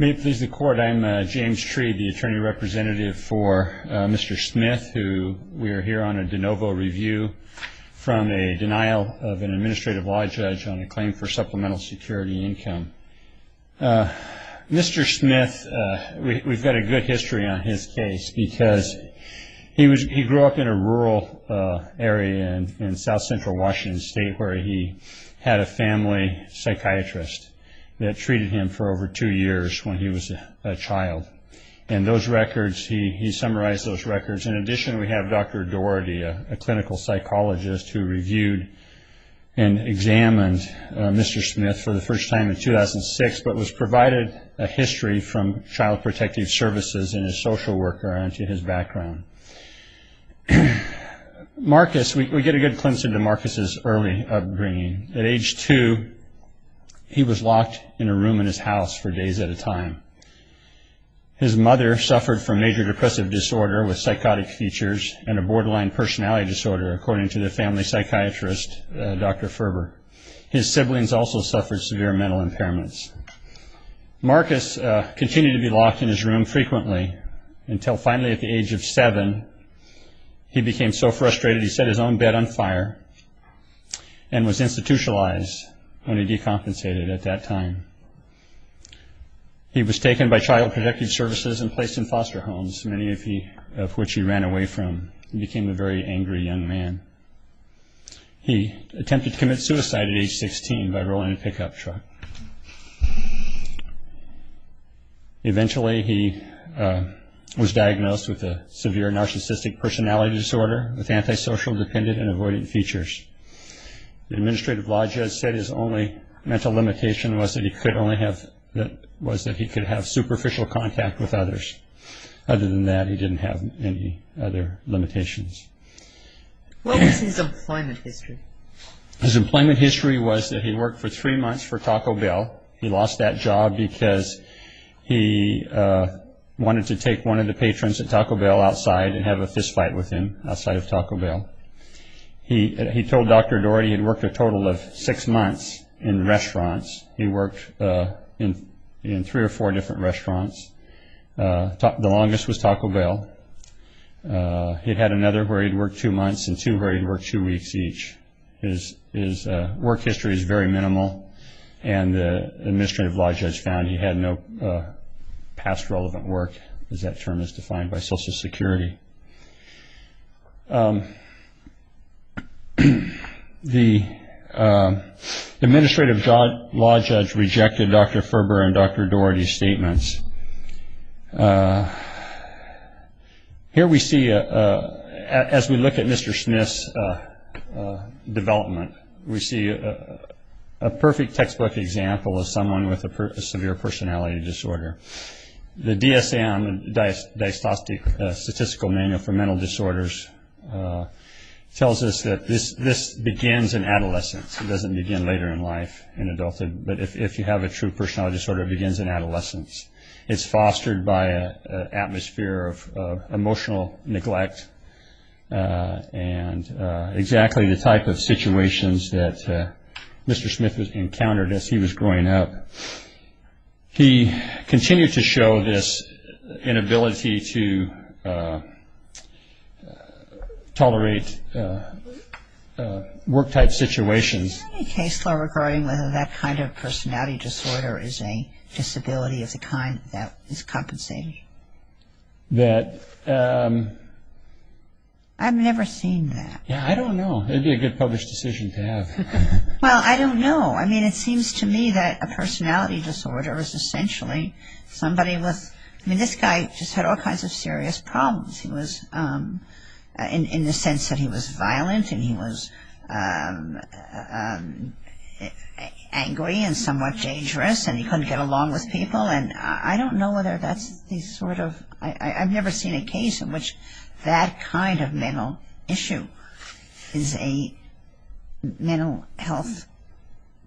May it please the court, I'm James Tree, the attorney representative for Mr. Smith, who we are here on a de novo review from a denial of an administrative law judge on a claim for supplemental security income. Mr. Smith, we've got a good history on his case because he grew up in a rural area in south central Washington state where he had a family psychiatrist that treated him for over two years when he was a child. And those records, he summarized those records. In addition, we have Dr. Doherty, a clinical psychologist who reviewed and examined Mr. Smith for the first time in 2006, but was provided a history from Child Protective Services and a social worker into his background. Marcus, we get a good glimpse into Marcus' early upbringing. At age two, he was locked in a room in his house for days at a time. His mother suffered from major depressive disorder with psychotic features and a borderline personality disorder, according to the family psychiatrist, Dr. Ferber. His siblings also suffered severe mental impairments. Marcus continued to be locked in his room frequently until finally at the age of seven, he became so frustrated he set his own bed on fire and was institutionalized when he decompensated at that time. He was taken by Child Protective Services and placed in foster homes, many of which he ran away from and became a very angry young man. He attempted to commit suicide at age 16 by rolling a pickup truck. Eventually, he was diagnosed with a severe narcissistic personality disorder with antisocial, dependent, and avoidant features. The administrative law judge said his only mental limitation was that he could have superficial contact with others. Other than that, he didn't have any other limitations. What is his employment history? The administrative law judge rejected Dr. Ferber and Dr. Dougherty's statements. Here we see, as we look at Mr. Smith's development, we see a perfect textbook example of someone with a severe personality disorder. The DSM, the Diagnostic Statistical Manual for Mental Disorders, tells us that this begins in adolescence. It doesn't begin later in life, in adulthood, but if you have a true personality disorder, it begins in adolescence. It's fostered by an atmosphere of emotional neglect and exactly the type of situations that Mr. Smith encountered as he was growing up. He continued to show this inability to tolerate work-type situations. Is there any case law regarding whether that kind of personality disorder is a disability of the kind that is compensated? That, um... I've never seen that. Yeah, I don't know. It would be a good published decision to have. Well, I don't know. I mean, it seems to me that a personality disorder is essentially somebody with... I mean, this guy just had all kinds of serious problems. He was... in the sense that he was violent and he was angry and somewhat dangerous and he couldn't get along with people and I don't know whether that's the sort of... I've never seen a case in which that kind of mental issue is a mental health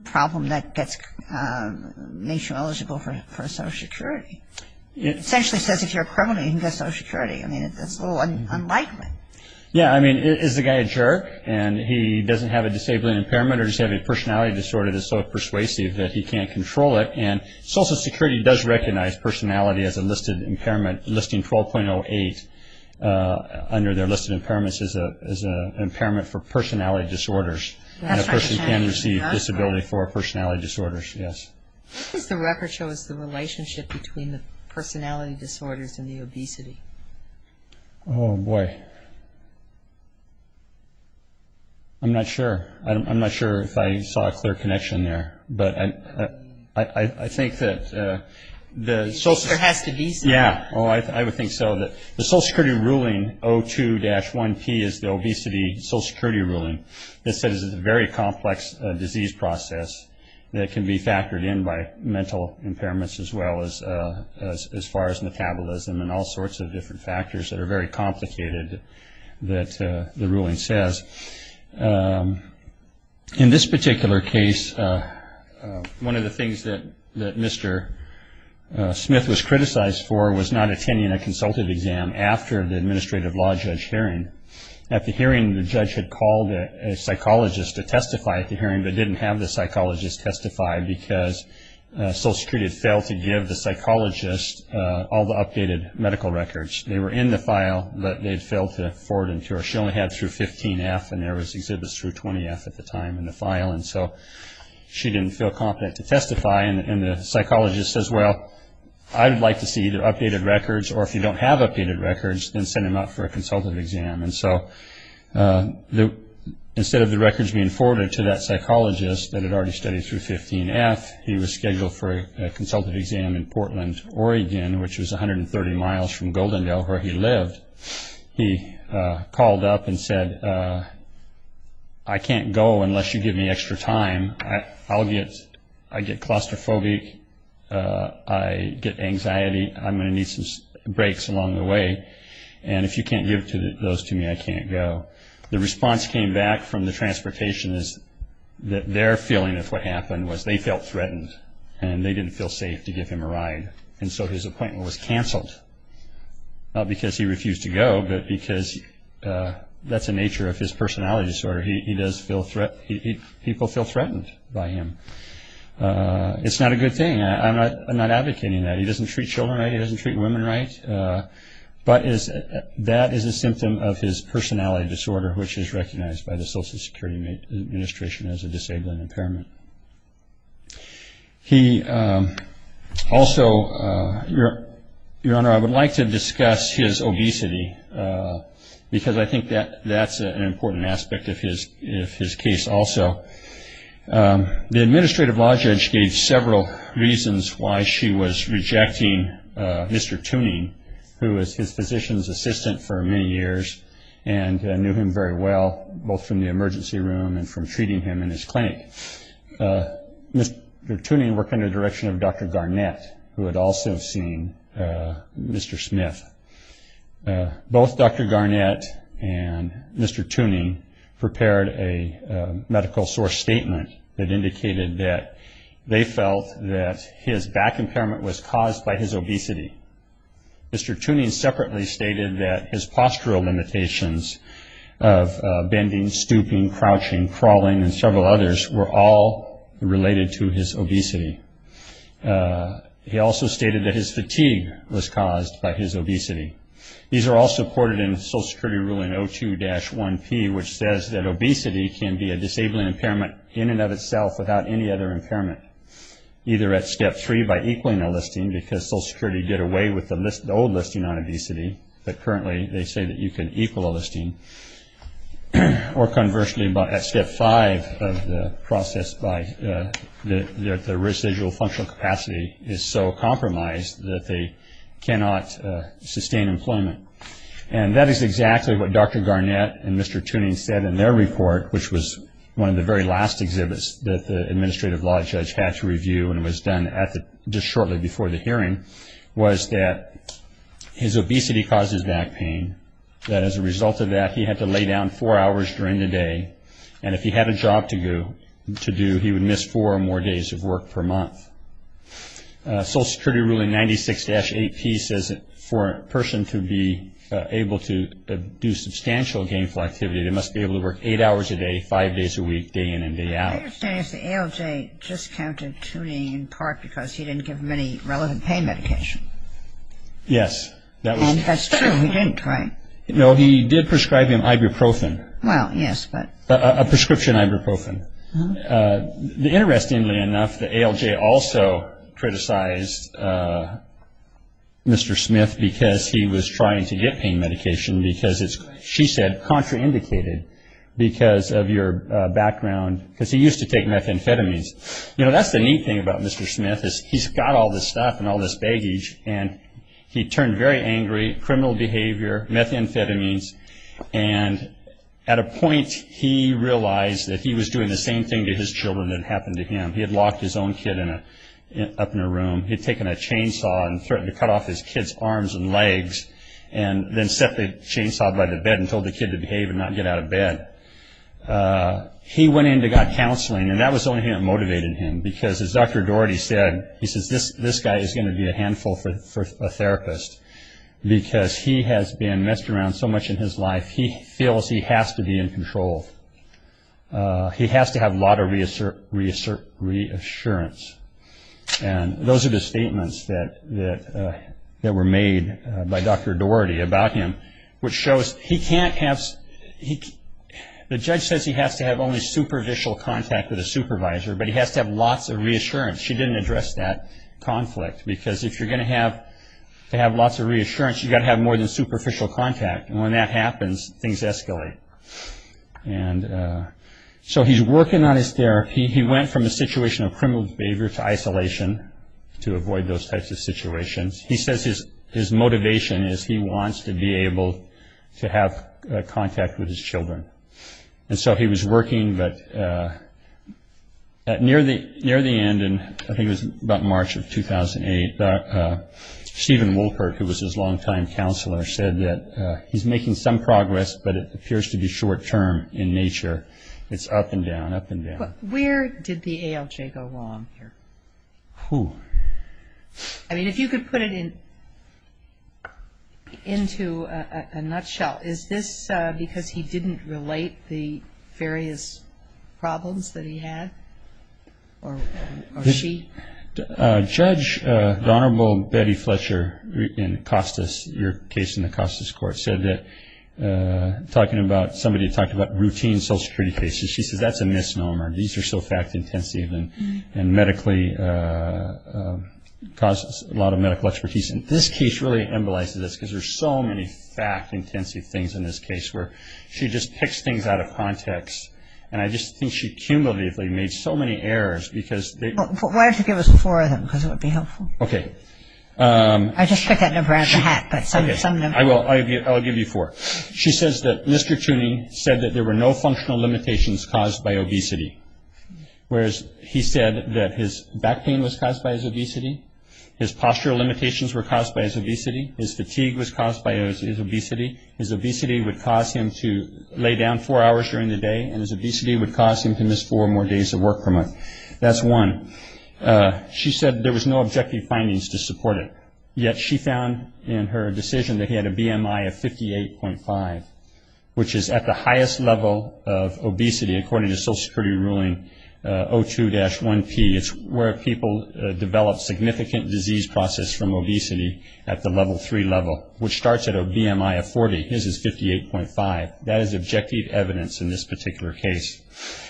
problem that makes you eligible for Social Security. It essentially says if you're a criminal, you can get Social Security. I mean, that's a little unlikely. Yeah, I mean, is the guy a jerk and he doesn't have a disabling impairment or does he have a personality disorder that's so persuasive that he can't control it? And Social Security does recognize personality as a listed impairment, listing 12.08 under their list of impairments as an impairment for personality disorders and a person can receive disability for personality disorders, yes. What does the record show is the relationship between the personality disorders and the obesity? Oh, boy. I'm not sure. I'm not sure if I saw a clear connection there, but I think that the... There has to be some. Yeah, I would think so. The Social Security ruling 02-1P is the obesity Social Security ruling that says it's a very complex disease process that can be factored in by mental impairments as well as far as metabolism and all sorts of different factors that are very complicated that the ruling says. In this particular case, one of the things that Mr. Smith was criticized for was not attending a consultative exam after the administrative law judge hearing. At the hearing, the judge had called a psychologist to testify at the hearing but didn't have the psychologist testify because Social Security had failed to give the psychologist all the updated medical records. They were in the file, but they had failed to forward and cure. She only had through 15F and there was exhibits through 20F at the time in the file, and so she didn't feel confident to testify. And the psychologist says, well, I would like to see the updated records, or if you don't have updated records, then send him out for a consultative exam. And so instead of the records being forwarded to that psychologist that had already studied through 15F, he was scheduled for a consultative exam in Portland, Oregon, which was 130 miles from Goldendale, where he lived. He called up and said, I can't go unless you give me extra time. I get claustrophobic. I get anxiety. I'm going to need some breaks along the way. And if you can't give those to me, I can't go. The response came back from the transportationists that their feeling of what happened was they felt threatened and they didn't feel safe to give him a ride. And so his appointment was canceled, not because he refused to go, but because that's the nature of his personality disorder. People feel threatened by him. It's not a good thing. I'm not advocating that. He doesn't treat children right. He doesn't treat women right. But that is a symptom of his personality disorder, which is recognized by the Social Security Administration as a disabling impairment. He also, Your Honor, I would like to discuss his obesity, because I think that's an important aspect of his case also. The administrative law judge gave several reasons why she was rejecting Mr. Tuning, who was his physician's assistant for many years and knew him very well, both from the emergency room and from treating him in his clinic. Mr. Tuning worked under the direction of Dr. Garnett, who had also seen Mr. Smith. Both Dr. Garnett and Mr. Tuning prepared a medical source statement that indicated that they felt that his back impairment was caused by his obesity. Mr. Tuning separately stated that his postural limitations of bending, stooping, crouching, crawling, and several others were all related to his obesity. He also stated that his fatigue was caused by his obesity. These are all supported in the Social Security Rule in 02-1P, which says that obesity can be a disabling impairment in and of itself without any other impairment, either at Step 3 by equaling a listing, because Social Security did away with the old listing on obesity, but currently they say that you can equal a listing, or conversely at Step 5 of the process by the residual functional capacity is so compromised that they cannot sustain employment. And that is exactly what Dr. Garnett and Mr. Tuning said in their report, which was one of the very last exhibits that the Administrative Law Judge had to review, and it was done just shortly before the hearing, was that his obesity causes back pain, that as a result of that he had to lay down four hours during the day, and if he had a job to do, he would miss four or more days of work per month. Social Security Rule in 96-8P says that for a person to be able to do substantial gainful activity, they must be able to work eight hours a day, five days a week, day in and day out. I understand the ALJ discounted Tuning in part because he didn't give him any relevant pain medication. Yes. And that's true, he didn't, right? No, he did prescribe him ibuprofen. Well, yes, but. A prescription ibuprofen. Interestingly enough, the ALJ also criticized Mr. Smith because he was trying to get pain medication because it's, she said, contraindicated because of your background, because he used to take methamphetamines. You know, that's the neat thing about Mr. Smith is he's got all this stuff and all this baggage, and he turned very angry, criminal behavior, methamphetamines, and at a point he realized that he was doing the same thing to his children that had happened to him. He had locked his own kid up in a room. He had taken a chainsaw and threatened to cut off his kid's arms and legs and then set the chainsaw by the bed and told the kid to behave and not get out of bed. He went into counseling, and that was the only thing that motivated him because, as Dr. Doherty said, he says, this guy is going to be a handful for a therapist because he has been messed around so much in his life, he feels he has to be in control. He has to have a lot of reassurance. And those are the statements that were made by Dr. Doherty about him, which shows he can't have, the judge says he has to have only superficial contact with a supervisor, but he has to have lots of reassurance. She didn't address that conflict because if you're going to have lots of reassurance, you've got to have more than superficial contact, and when that happens, things escalate. And so he's working on his therapy. He went from a situation of criminal behavior to isolation to avoid those types of situations. He says his motivation is he wants to be able to have contact with his children. And so he was working, but near the end, I think it was about March of 2008, Stephen Wolpert, who was his longtime counselor, said that he's making some progress, but it appears to be short-term in nature. It's up and down, up and down. But where did the ALJ go wrong here? I mean, if you could put it into a nutshell, is this because he didn't relate the various problems that he had or she? Judge, the Honorable Betty Fletcher in Costas, your case in the Costas Court, said that somebody had talked about routine social security cases. She says that's a misnomer. These are so fact-intensive and medically cause a lot of medical expertise. And this case really embolizes this because there's so many fact-intensive things in this case where she just picks things out of context. And I just think she cumulatively made so many errors because they- Why don't you give us four of them because it would be helpful. Okay. I just picked that number out of the hat, but some of them- I will. I'll give you four. She says that Mr. Tooney said that there were no functional limitations caused by obesity, whereas he said that his back pain was caused by his obesity, his postural limitations were caused by his obesity, his fatigue was caused by his obesity, his obesity would cause him to lay down four hours during the day, and his obesity would cause him to miss four more days of work per month. That's one. She said there was no objective findings to support it, yet she found in her decision that he had a BMI of 58.5, which is at the highest level of obesity according to Social Security ruling 02-1P. It's where people develop significant disease process from obesity at the level three level, which starts at a BMI of 40. His is 58.5. That is objective evidence in this particular case.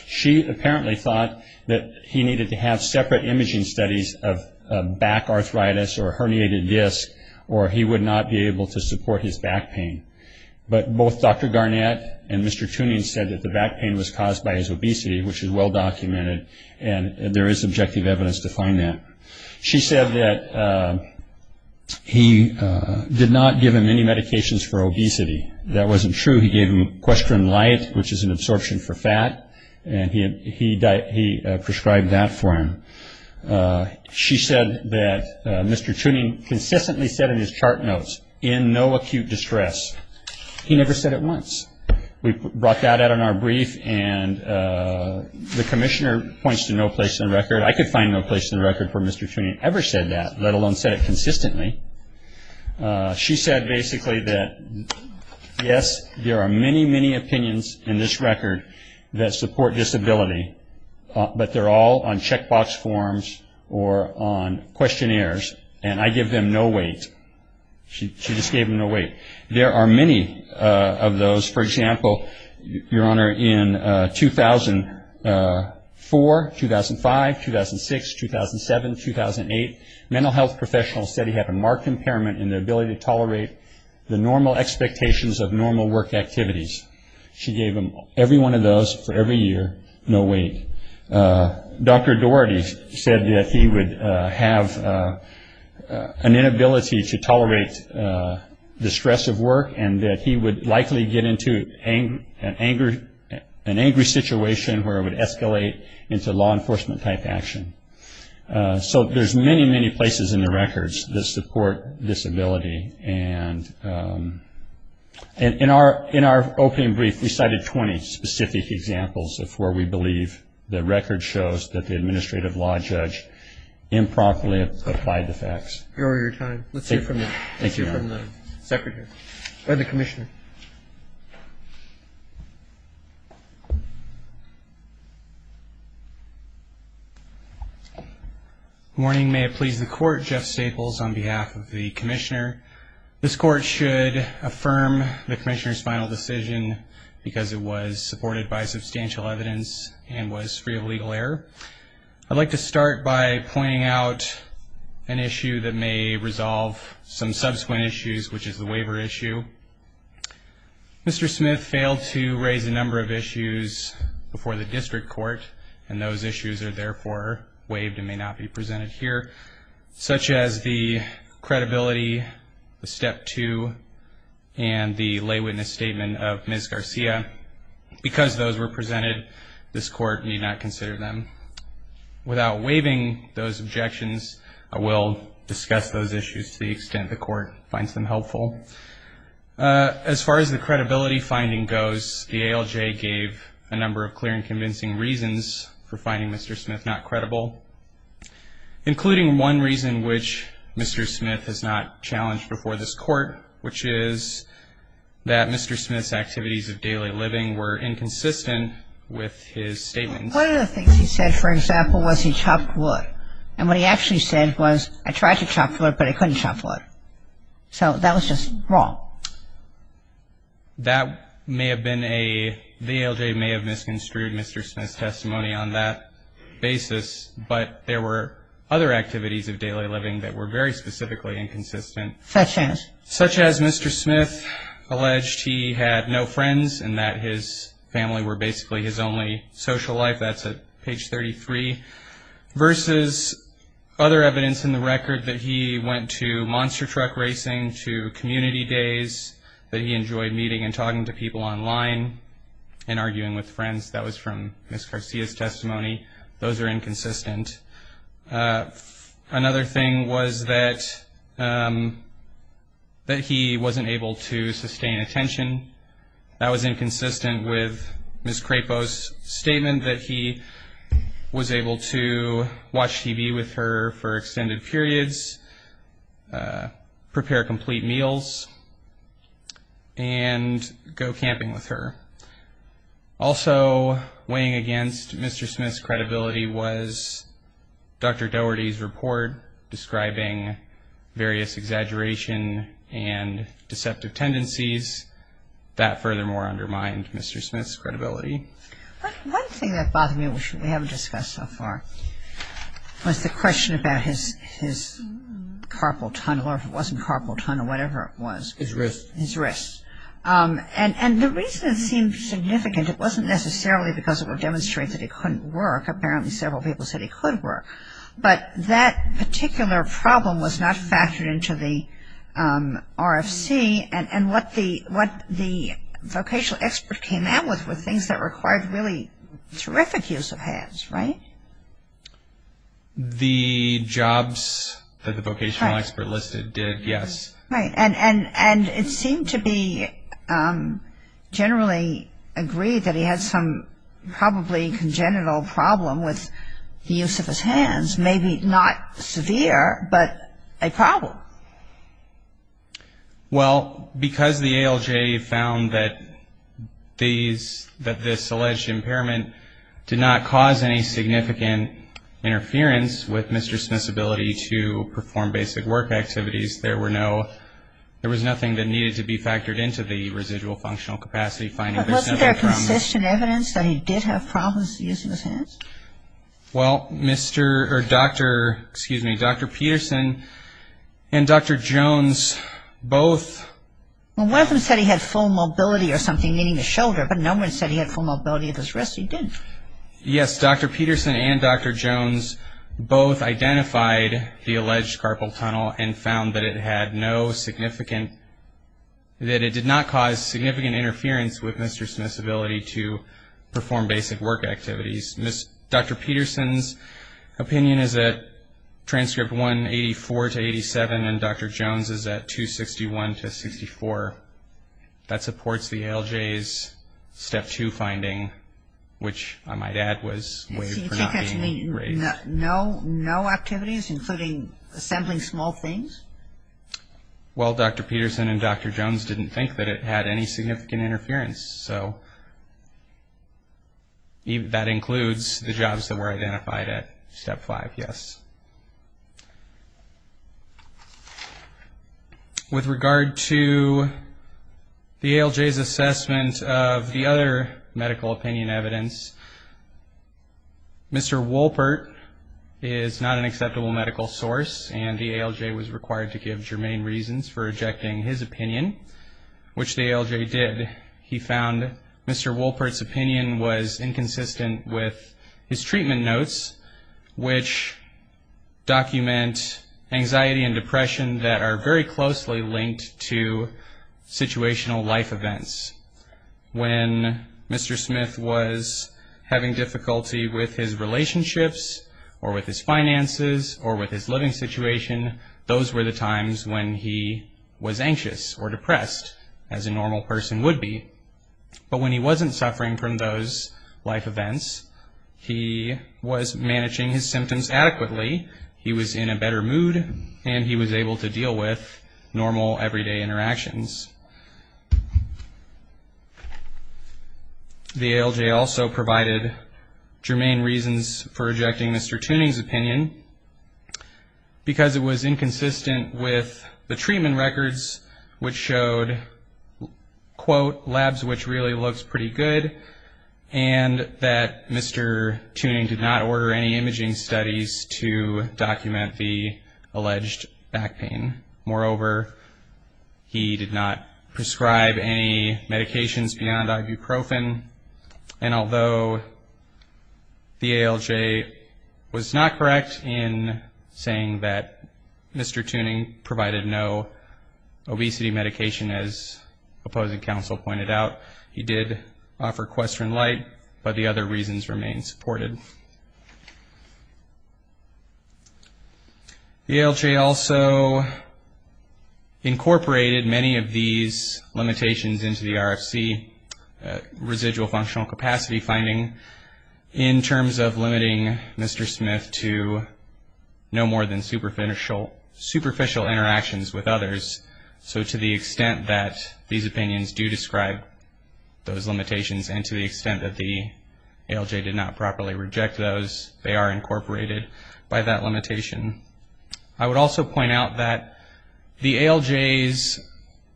She apparently thought that he needed to have separate imaging studies of back arthritis or a herniated disc or he would not be able to support his back pain. But both Dr. Garnett and Mr. Tooney said that the back pain was caused by his obesity, which is well documented, and there is objective evidence to find that. She said that he did not give him any medications for obesity. That wasn't true. He gave him equestrian light, which is an absorption for fat, and he prescribed that for him. She said that Mr. Tooney consistently said in his chart notes, in no acute distress, he never said it once. We brought that out in our brief, and the commissioner points to no place in the record. I could find no place in the record where Mr. Tooney ever said that, let alone said it consistently. She said basically that, yes, there are many, many opinions in this record that support disability, but they're all on checkbox forms or on questionnaires, and I give them no weight. She just gave them no weight. There are many of those. For example, Your Honor, in 2004, 2005, 2006, 2007, 2008, mental health professionals said he had a marked impairment in the ability to tolerate the normal expectations of normal work activities. She gave him every one of those for every year, no weight. Dr. Doherty said that he would have an inability to tolerate the stress of work and that he would likely get into an angry situation where it would escalate into law enforcement type action. So there's many, many places in the records that support disability. And in our opening brief, we cited 20 specific examples of where we believe the record shows that the administrative law judge improperly applied the facts. Your Honor, your time. Let's hear from the commissioner. Good morning. May it please the Court, Jeff Staples on behalf of the commissioner. This court should affirm the commissioner's final decision because it was supported by substantial evidence and was free of legal error. I'd like to start by pointing out an issue that may resolve some subsequent issues, which is the waiver issue. Mr. Smith failed to raise a number of issues before the district court, and those issues are therefore waived and may not be presented here, such as the credibility, the step two, and the lay witness statement of Ms. Garcia. Because those were presented, this court need not consider them. Without waiving those objections, I will discuss those issues to the extent the court finds them helpful. As far as the credibility finding goes, the ALJ gave a number of clear and convincing reasons for finding Mr. Smith not credible, including one reason which Mr. Smith has not challenged before this court, which is that Mr. Smith's activities of daily living were inconsistent with his statements. One of the things he said, for example, was he chopped wood. And what he actually said was, I tried to chop wood, but I couldn't chop wood. So that was just wrong. That may have been a, the ALJ may have misconstrued Mr. Smith's testimony on that basis, but there were other activities of daily living that were very specifically inconsistent. Such as? Such as Mr. Smith alleged he had no friends and that his family were basically his only social life. That's at page 33. Versus other evidence in the record that he went to monster truck racing, to community days, that he enjoyed meeting and talking to people online and arguing with friends. That was from Ms. Garcia's testimony. Those are inconsistent. Another thing was that he wasn't able to sustain attention. That was inconsistent with Ms. Crapo's statement that he was able to watch TV with her for extended periods, prepare complete meals, and go camping with her. Also weighing against Mr. Smith's credibility was Dr. Dougherty's report describing various exaggeration and deceptive tendencies that furthermore undermined Mr. Smith's credibility. One thing that bothered me, which we haven't discussed so far, was the question about his carpal tunnel, or if it wasn't carpal tunnel, whatever it was. His wrists. His wrists. And the reason it seemed significant, it wasn't necessarily because it would demonstrate that he couldn't work. Apparently several people said he could work. But that particular problem was not factored into the RFC, and what the vocational expert came out with were things that required really terrific use of hands, right? The jobs that the vocational expert listed did, yes. Right. And it seemed to be generally agreed that he had some probably congenital problem with the use of his hands, maybe not severe, but a problem. Well, because the ALJ found that this alleged impairment did not cause any significant interference with Mr. Smith's ability to perform basic work activities. There was nothing that needed to be factored into the residual functional capacity finding. But wasn't there consistent evidence that he did have problems using his hands? Well, Dr. Peterson and Dr. Jones both. Well, one of them said he had full mobility or something, meaning the shoulder, but no one said he had full mobility of his wrists. He didn't. Yes, Dr. Peterson and Dr. Jones both identified the alleged carpal tunnel and found that it did not cause significant interference with Mr. Smith's ability to perform basic work activities. Dr. Peterson's opinion is at transcript 184 to 87, and Dr. Jones' is at 261 to 64. That supports the ALJ's Step 2 finding, which I might add was waived for not being raised. No activities, including assembling small things? Well, Dr. Peterson and Dr. Jones didn't think that it had any significant interference, so that includes the jobs that were identified at Step 5, yes. With regard to the ALJ's assessment of the other medical opinion evidence, Mr. Wolpert is not an acceptable medical source, and the ALJ was required to give germane reasons for rejecting his opinion, which the ALJ did. He found Mr. Wolpert's opinion was inconsistent with his treatment notes, which document anxiety and depression that are very closely linked to situational life events. When Mr. Smith was having difficulty with his relationships or with his finances or with his living situation, those were the times when he was anxious or depressed, as a normal person would be. But when he wasn't suffering from those life events, he was managing his symptoms adequately, he was in a better mood, and he was able to deal with normal, everyday interactions. The ALJ also provided germane reasons for rejecting Mr. Tuning's opinion, because it was inconsistent with the treatment records, which showed, quote, labs which really looks pretty good, and that Mr. Tuning did not order any imaging studies to document the alleged back pain. Moreover, he did not prescribe any medications beyond ibuprofen, and although the ALJ was not correct in saying that Mr. Tuning provided no obesity medication, as opposing counsel pointed out, he did offer Questrin Lite, but the other reasons remained supported. The ALJ also incorporated many of these limitations into the RFC, residual functional capacity finding, in terms of limiting Mr. Smith to no more than superficial interactions with others. So to the extent that these opinions do describe those limitations, and to the extent that the ALJ did not properly reject those, they are incorporated by that limitation. I would also point out that the ALJ's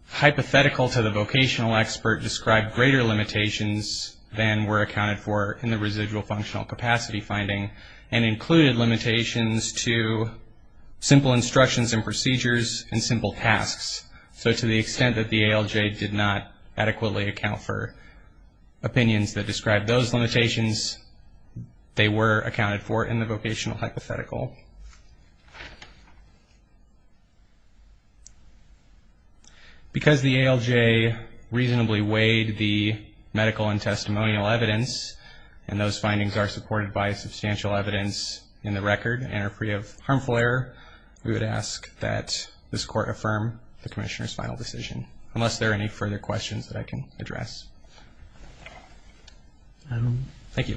hypothetical to the vocational expert described greater limitations than were accounted for in the residual functional capacity finding, and included limitations to simple instructions and procedures and simple tasks. So to the extent that the ALJ did not adequately account for opinions that describe those limitations, they were accounted for in the vocational hypothetical. Because the ALJ reasonably weighed the medical and testimonial evidence, and those findings are supported by substantial evidence in the record and are free of harmful error, we would ask that this Court affirm the Commissioner's final decision, unless there are any further questions that I can address. Thank you.